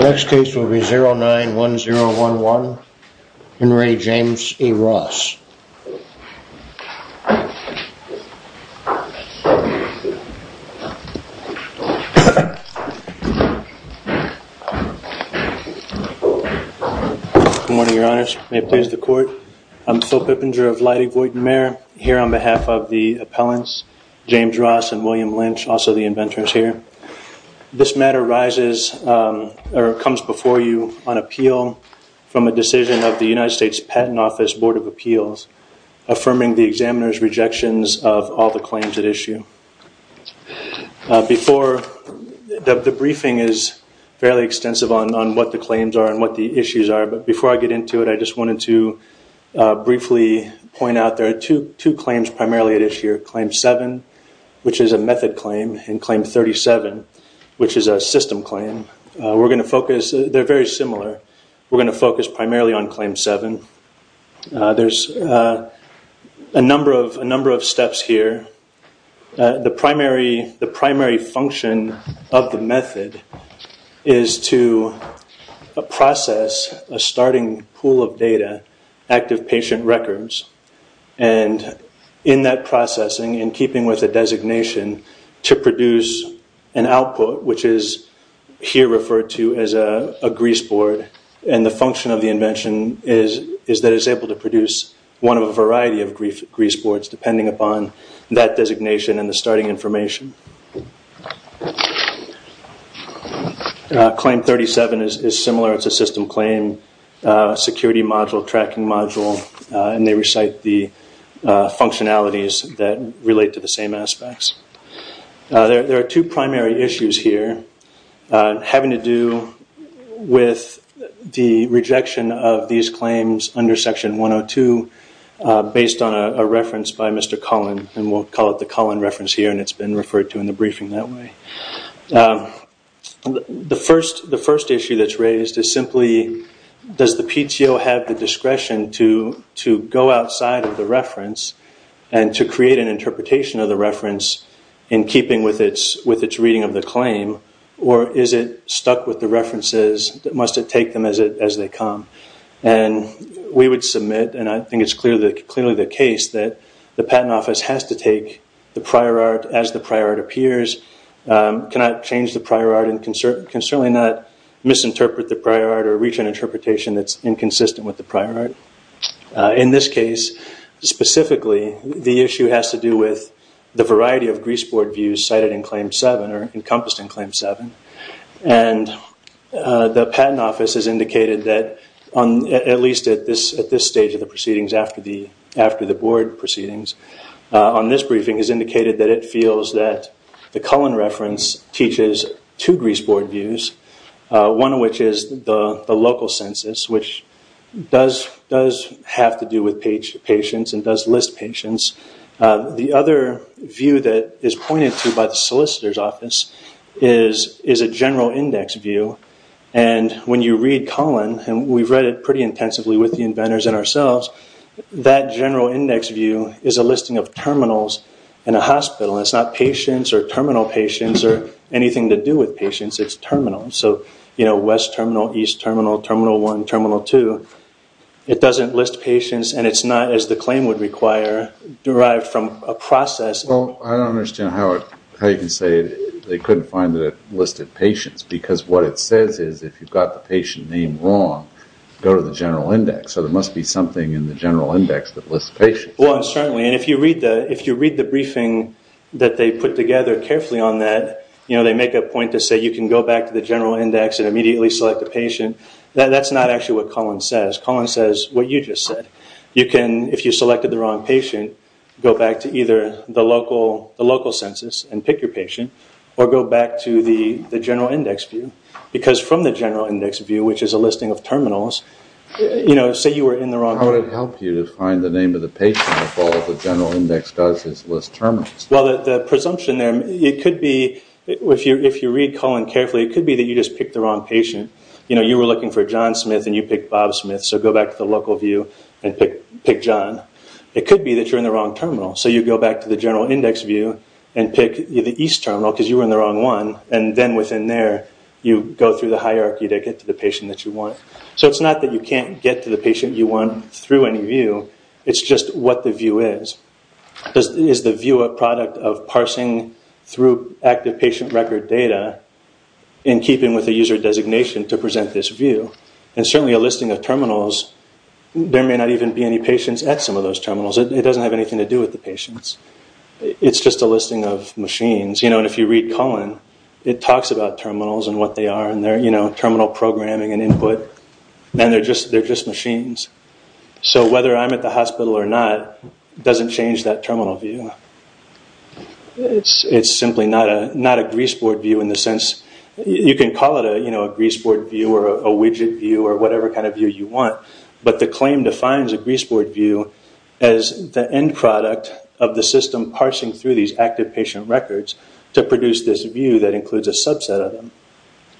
Next case will be 091011. Next case will be 091011, Henry James A Ross. Good morning, Your Honours. May it please the court. I'm Phil Pippinger of Leidy Voight & Mair, here on behalf of the appellants, James Ross and William Lynch, also the inventors here. This matter comes before you on appeal from a decision of the United States Patent Office Board of Appeals, affirming the examiner's rejections of all the claims at issue. The briefing is fairly extensive on what the claims are and what the issues are, but before I get into it, I just wanted to briefly point out there are two claims primarily at issue. Claim 7, which is a method claim, and Claim 37, which is a system claim. They're very similar. We're going to focus primarily on Claim 7. There's a number of steps here. The primary function of the method is to process a starting pool of data, active patient records, and in that processing, in keeping with the designation, to produce an output, which is here referred to as a grease board, and the function of the invention is that it's able to produce one of a variety of grease boards, depending upon that designation and the starting information. Claim 37 is similar. It's a system claim, security module, tracking module, and they recite the functionalities that relate to the same aspects. There are two primary issues here having to do with the rejection of these claims under Section 102, based on a reference by Mr. Cullen, and we'll call it the Cullen reference here, and it's been referred to in the briefing that way. The first issue that's raised is simply does the PTO have the discretion to go outside of the reference and to create an interpretation of the reference in keeping with its reading of the claim, or is it stuck with the references? Must it take them as they come? We would submit, and I think it's clearly the case, that the Patent Office has to take the prior art as the prior art appears. It cannot change the prior art and can certainly not misinterpret the prior art or reach an interpretation that's inconsistent with the prior art. In this case, specifically, the issue has to do with the variety of grease board views cited in Claim 7, or encompassed in Claim 7. The Patent Office has indicated that, at least at this stage of the proceedings after the board proceedings, on this briefing has indicated that it feels that the Cullen reference teaches two grease board views, one of which is the local census, which does have to do with patients and does list patients. The other view that is pointed to by the Solicitor's Office is a general index view. When you read Cullen, and we've read it pretty intensively with the inventors and ourselves, that general index view is a listing of terminals in a hospital. It's not patients or terminal patients or anything to do with patients. It's terminals. West Terminal, East Terminal, Terminal 1, Terminal 2. It doesn't list patients and it's not, as the claim would require, derived from a process. I don't understand how you can say they couldn't find the listed patients because what it says is if you've got the patient name wrong, go to the general index. There must be something in the general index that lists patients. If you read the briefing that they put together carefully on that, they make a point to say you can go back to the general index and immediately select a patient. That's not actually what Cullen says. Cullen says what you just said. You can, if you selected the wrong patient, go back to either the local census and pick your patient or go back to the general index view. Because from the general index view, which is a listing of terminals, say you were in the wrong... How would it help you to find the name of the patient if all the general index does is list terminals? The presumption there, it could be, if you read Cullen carefully, it could be that you just picked the wrong patient. You were looking for John Smith and you picked Bob Smith, so go back to the local view and pick John. It could be that you're in the wrong terminal, so you go back to the general index view and pick the East Terminal because you were in the wrong one. Then within there, you go through the hierarchy to get to the patient that you want. It's not that you can't get to the patient you want through any view. It's just what the view is. Is the view a product of parsing through active patient record data in keeping with the user designation to present this view? Certainly a listing of terminals, there may not even be any patients at some of those terminals. It doesn't have anything to do with the patients. It's just a listing of machines. If you read Cullen, it talks about terminals and what they are and their terminal programming and input. They're just machines. So whether I'm at the hospital or not doesn't change that terminal view. It's simply not a greaseboard view in the sense, you can call it a greaseboard view or a widget view or whatever kind of view you want, but the claim defines a greaseboard view as the end product of the system parsing through these active patient records to produce this view that includes a subset of them.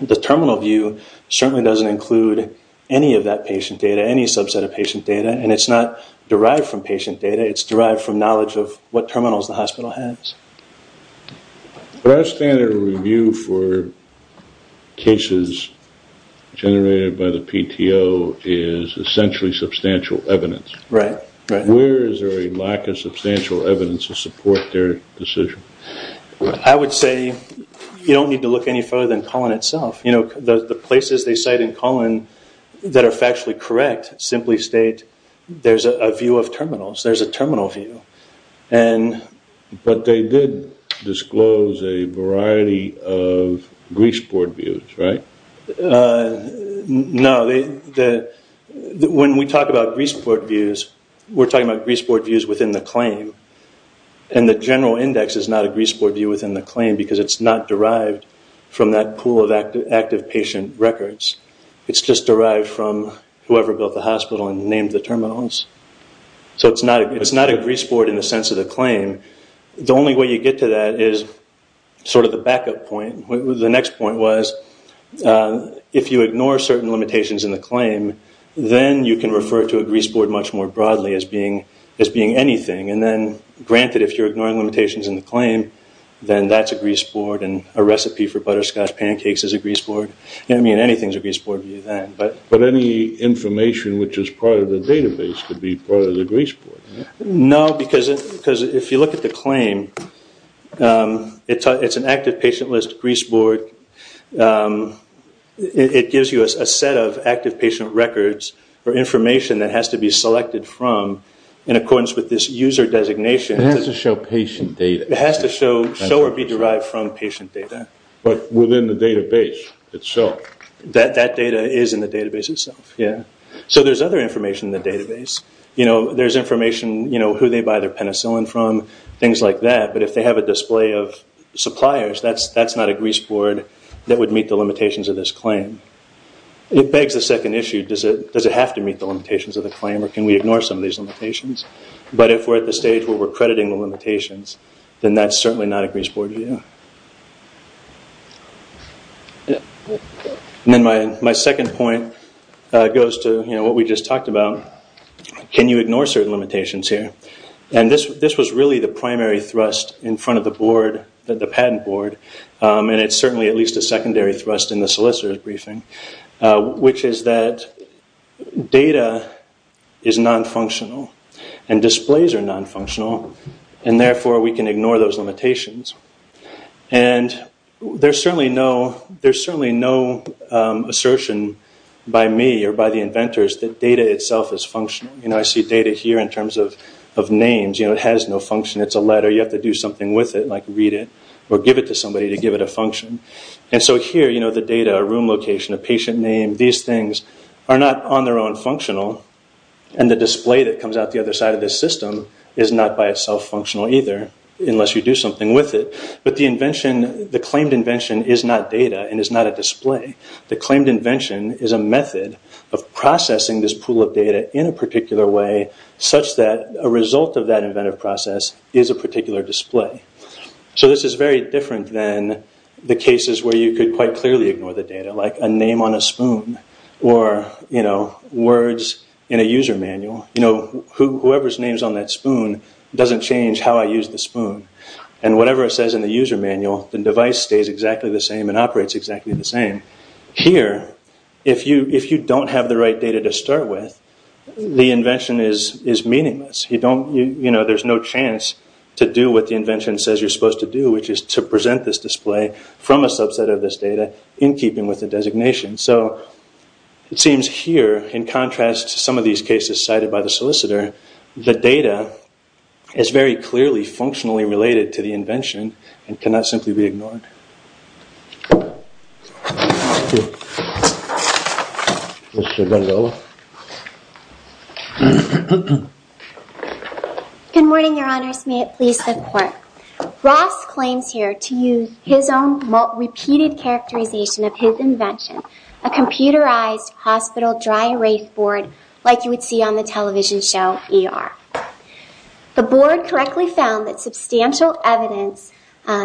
The terminal view certainly doesn't include any of that patient data, any subset of patient data, and it's not derived from patient data. It's derived from knowledge of what terminals the hospital has. Our standard review for cases generated by the PTO is essentially substantial evidence. Where is there a lack of substantial evidence to support their decision? I would say you don't need to look any further than Cullen itself. The places they cite in Cullen that are factually correct simply state there's a view of terminals. There's a terminal view. But they did disclose a variety of greaseboard views, right? No. When we talk about greaseboard views, we're talking about greaseboard views within the claim, and the general index is not a greaseboard view within the claim because it's not derived from that pool of active patient records. It's just derived from whoever built the hospital and named the terminals. So it's not a greaseboard in the sense of the claim. The only way you get to that is sort of the backup point. The next point was if you ignore certain limitations in the claim, then you can refer to a greaseboard much more broadly as being anything. And then, granted, if you're ignoring limitations in the claim, then that's a greaseboard, and a recipe for butterscotch pancakes is a greaseboard. I mean, anything is a greaseboard view then. But any information which is part of the database could be part of the greaseboard. No, because if you look at the claim, it's an active patient list greaseboard. It gives you a set of active patient records for information that has to be selected from in accordance with this user designation. It has to show patient data. It has to show or be derived from patient data. But within the database itself. That data is in the database itself. So there's other information in the database. There's information, you know, who they buy their penicillin from, things like that. But if they have a display of suppliers, that's not a greaseboard that would meet the limitations of this claim. It begs the second issue. Does it have to meet the limitations of the claim, or can we ignore some of these limitations? But if we're at the stage where we're crediting the limitations, then that's certainly not a greaseboard view. Then my second point goes to what we just talked about. Can you ignore certain limitations here? And this was really the primary thrust in front of the board, the patent board, and it's certainly at least a secondary thrust in the solicitor's briefing, which is that data is nonfunctional and displays are nonfunctional, and therefore we can ignore those limitations. And there's certainly no assertion by me or by the inventors that data itself is functional. You know, I see data here in terms of names. You know, it has no function. It's a letter. You have to do something with it, like read it or give it to somebody to give it a function. And so here, you know, the data, a room location, a patient name, these things are not on their own functional, and the display that comes out the other side of this system is not by itself functional either, unless you do something with it. But the claimed invention is not data and is not a display. The claimed invention is a method of processing this pool of data in a particular way, such that a result of that inventive process is a particular display. So this is very different than the cases where you could quite clearly ignore the data, like a name on a spoon or, you know, words in a user manual. You know, whoever's name is on that spoon doesn't change how I use the spoon. And whatever it says in the user manual, the device stays exactly the same and operates exactly the same. Here, if you don't have the right data to start with, the invention is meaningless. You don't, you know, there's no chance to do what the invention says you're supposed to do, which is to present this display from a subset of this data in keeping with the designation. So it seems here, in contrast to some of these cases cited by the solicitor, the data is very clearly functionally related to the invention and cannot simply be ignored. Thank you. Mr. Gandola. Good morning, Your Honors. May it please the Court. Ross claims here to use his own repeated characterization of his invention, a computerized hospital dry erase board like you would see on the television show ER. The board correctly found that substantial evidence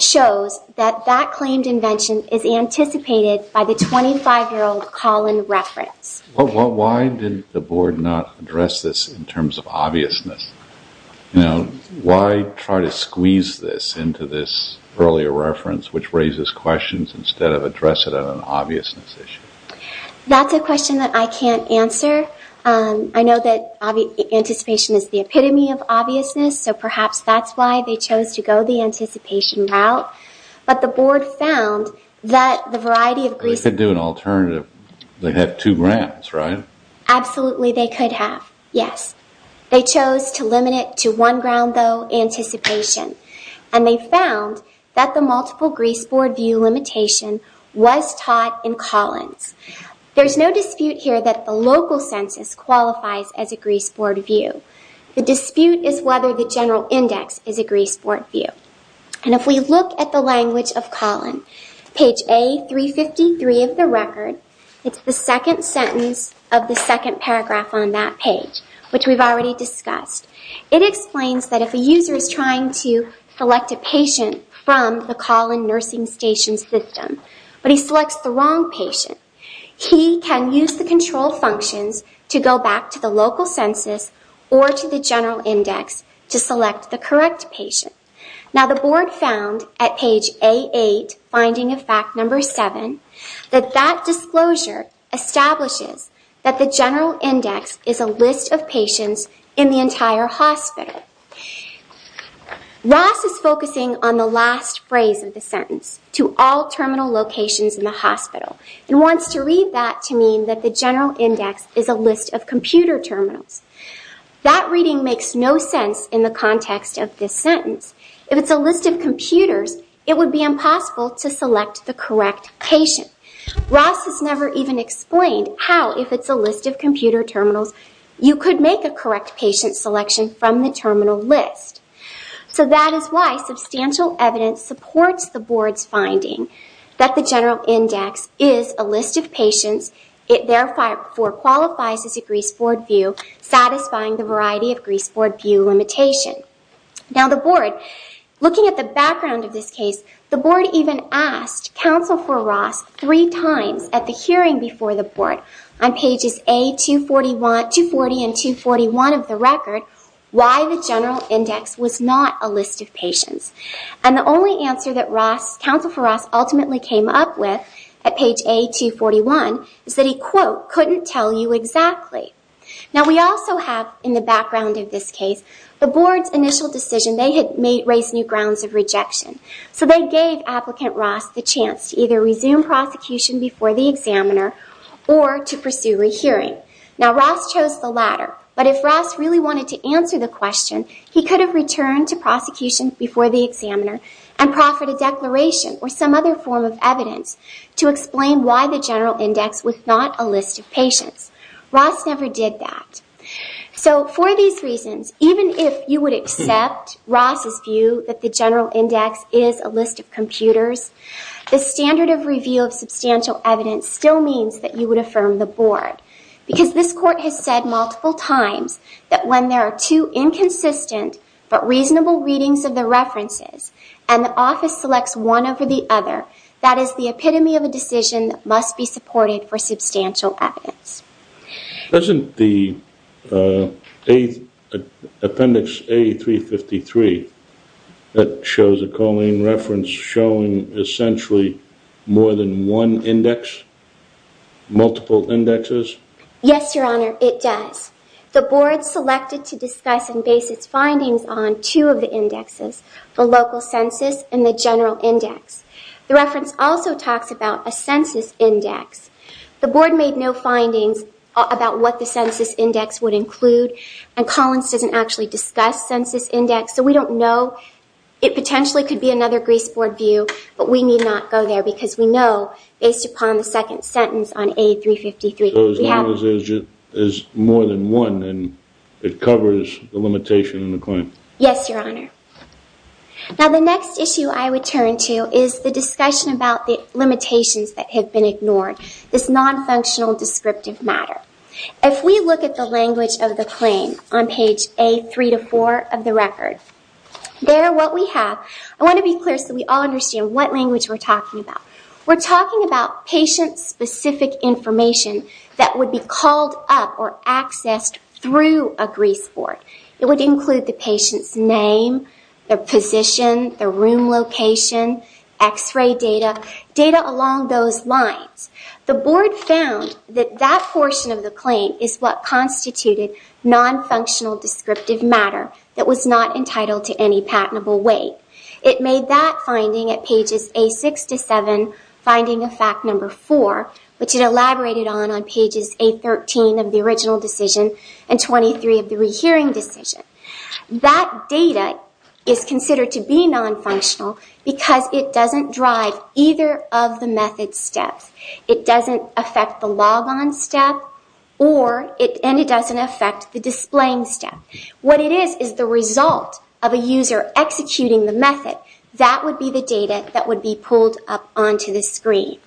shows that that claimed invention is anticipated by the 25-year-old call-in reference. Well, why did the board not address this in terms of obviousness? You know, why try to squeeze this into this earlier reference, which raises questions instead of address it on an obviousness issue? That's a question that I can't answer. I know that anticipation is the epitome of obviousness, so perhaps that's why they chose to go the anticipation route. But the board found that the variety of... They could do an alternative. They have two grounds, right? Absolutely they could have, yes. They chose to limit it to one ground, though, anticipation. And they found that the multiple grease board view limitation was taught in Collins. There's no dispute here that the local census qualifies as a grease board view. The dispute is whether the general index is a grease board view. And if we look at the language of Collins, page A353 of the record, it's the second sentence of the second paragraph on that page, which we've already discussed. It explains that if a user is trying to select a patient from the call-in nursing station system, but he selects the wrong patient, he can use the control functions to go back to the local census or to the general index to select the correct patient. Now, the board found at page A8, finding of fact number 7, that that disclosure establishes that the general index is a list of patients in the entire hospital. Ross is focusing on the last phrase of the sentence, to all terminal locations in the hospital, and wants to read that to mean that the general index is a list of computer terminals. That reading makes no sense in the context of this sentence. If it's a list of computers, it would be impossible to select the correct patient. Ross has never even explained how, if it's a list of computer terminals, you could make a correct patient selection from the terminal list. So that is why substantial evidence supports the board's finding that the general index is a list of patients. It, therefore, qualifies as a greaseboard view, satisfying the variety of greaseboard view limitation. Now, the board, looking at the background of this case, the board even asked counsel for Ross three times at the hearing before the board, on pages A240 and 241 of the record, why the general index was not a list of patients. And the only answer that counsel for Ross ultimately came up with at page A241 is that he, quote, couldn't tell you exactly. Now, we also have, in the background of this case, the board's initial decision, they had raised new grounds of rejection. So they gave applicant Ross the chance to either resume prosecution before the examiner or to pursue a hearing. Now, Ross chose the latter. But if Ross really wanted to answer the question, he could have returned to prosecution before the examiner and proffered a declaration or some other form of evidence to explain why the general index was not a list of patients. Ross never did that. So, for these reasons, even if you would accept Ross's view that the general index is a list of computers, the standard of review of substantial evidence still means that you would affirm the board. Because this court has said multiple times that when there are two inconsistent but reasonable readings of the references and the office selects one over the other, that is the epitome of a decision that must be supported for substantial evidence. Isn't the appendix A353 that shows a choline reference showing essentially more than one index, multiple indexes? Yes, Your Honor, it does. The board selected to discuss and base its findings on two of the indexes, the local census and the general index. The reference also talks about a census index. The board made no findings about what the census index would include and Collins doesn't actually discuss census index, so we don't know. It potentially could be another Greece Board view, but we need not go there because we know, based upon the second sentence on A353, that we have... So, as long as there's more than one and it covers the limitation and the claim. Yes, Your Honor. Now, the next issue I would turn to is the discussion about the limitations that have been ignored. This non-functional descriptive matter. If we look at the language of the claim on page A3-4 of the record, there what we have... I want to be clear so we all understand what language we're talking about. We're talking about patient-specific information that would be called up or accessed through a Greece Board. It would include the patient's name, their position, their room location, x-ray data, data along those lines. The board found that that portion of the claim is what constituted non-functional descriptive matter that was not entitled to any patentable weight. It made that finding at pages A6-7, finding of fact number 4, which it elaborated on on pages A13 of the original decision and 23 of the rehearing decision. That data is considered to be non-functional because it doesn't drive either of the method steps. It doesn't affect the log-on step and it doesn't affect the displaying step. What it is is the result of a user executing the method. That would be the data that would be pulled up onto the screen.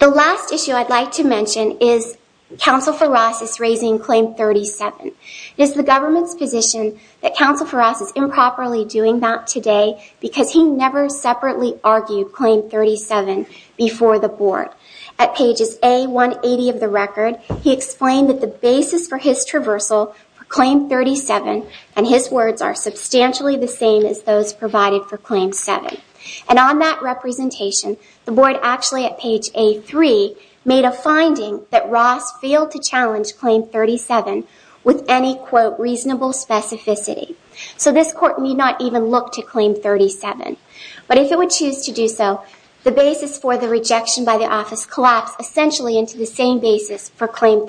The last issue I'd like to mention is counsel for us is raising claim 37. It is the government's position that counsel for us is improperly doing that today because he never separately argued claim 37 before the board. At pages A180 of the record, he explained that the basis for his traversal for claim 37 and his words are substantially the same as those provided for claim 7. On that representation, the board actually at page A3 made a finding that Ross failed to challenge claim 37 with any, quote, reasonable specificity. So this court need not even look to claim 37. But if it would choose to do so, the basis for the rejection by the office collapsed essentially into the same basis for claim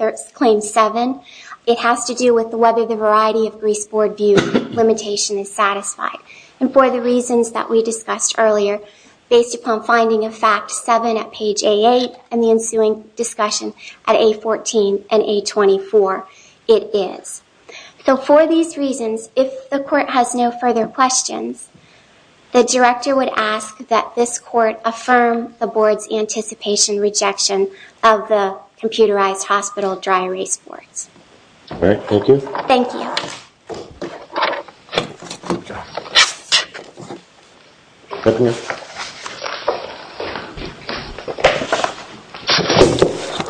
7. It has to do with whether the variety of Greece Board views limitation is satisfied. And for the reasons that we discussed earlier, based upon finding of fact 7 at page A8 and the ensuing discussion at A14 and A24, it is. So for these reasons, if the court has no further questions, the director would ask that this court affirm the board's anticipation rejection of the computerized hospital dry erase boards. All right, thank you. Thank you.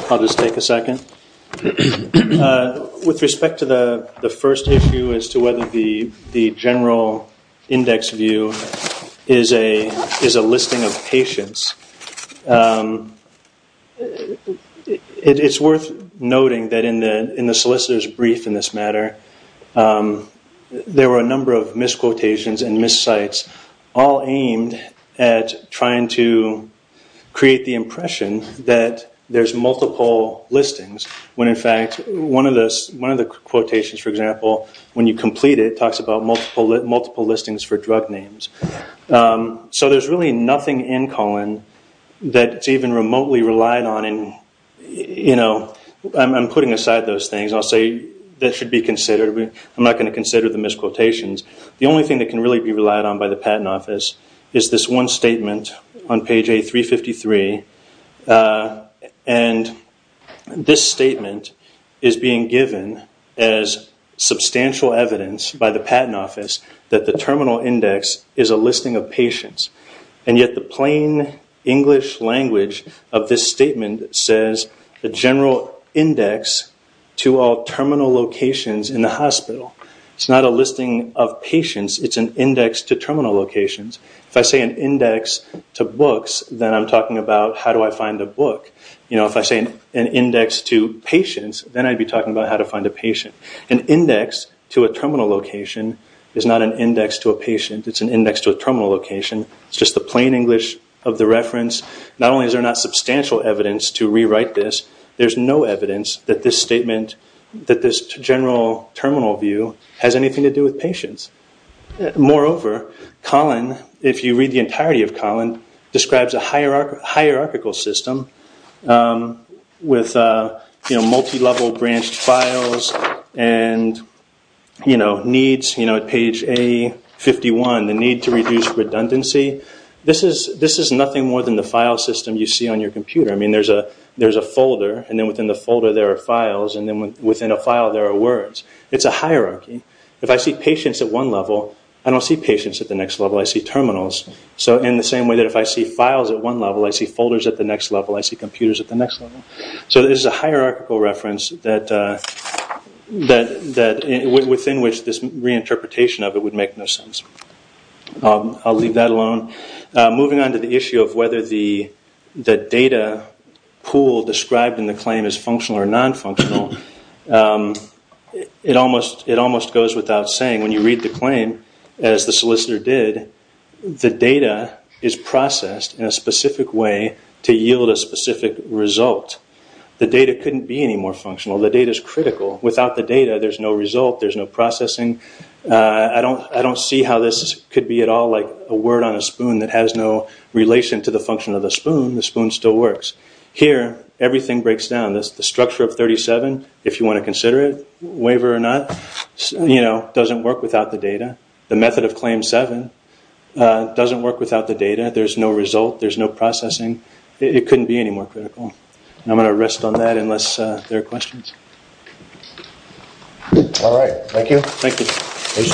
I'll just take a second. With respect to the first issue as to whether the general index view is a listing of patients, it's worth noting that in the solicitor's brief in this matter, there were a number of misquotations and miscites all aimed at trying to create the impression that there's multiple listings, when in fact one of the quotations, for example, when you complete it, talks about multiple listings for drug names. So there's really nothing in Colin that's even remotely relied on. I'm putting aside those things. I'll say that should be considered. I'm not going to consider the misquotations. The only thing that can really be relied on by the patent office is this one statement on page A353 and this statement is being given as substantial evidence by the patent office that the terminal index is a listing of patients and yet the plain English language of this statement says the general index to all terminal locations in the hospital. It's not a listing of patients. It's an index to terminal locations. If I say an index to books, then I'm talking about how do I find a book. If I say an index to patients, then I'd be talking about how to find a patient. An index to a terminal location is not an index to a patient. It's an index to a terminal location. It's just the plain English of the reference. Not only is there not substantial evidence to rewrite this, there's no evidence that this statement, that this general terminal view, has anything to do with patients. Moreover, Colin, if you read the entirety of Colin, describes a hierarchical system with multi-level branched files and needs at page A51, the need to reduce redundancy. This is nothing more than the file system you see on your computer. There's a folder and then within the folder there are files and then within a file there are words. It's a hierarchy. If I see patients at one level, I don't see patients at the next level. I see terminals. In the same way that if I see files at one level, I see folders at the next level, I see computers at the next level. So this is a hierarchical reference within which this reinterpretation of it would make no sense. I'll leave that alone. Moving on to the issue of whether the data pool described in the claim is functional or non-functional, it almost goes without saying, when you read the claim, as the solicitor did, the data is processed in a specific way to yield a specific result. The data couldn't be any more functional. The data is critical. Without the data, there's no result. There's no processing. I don't see how this could be at all like a word on a spoon that has no relation to the function of the spoon. The spoon still works. Here, everything breaks down. The structure of 37, if you want to consider it, waiver or not, doesn't work without the data. The method of Claim 7 doesn't work without the data. There's no result. There's no processing. It couldn't be any more critical. I'm going to rest on that unless there are questions. All right. Thank you. Thank you. Thank you, Mr. Submittee.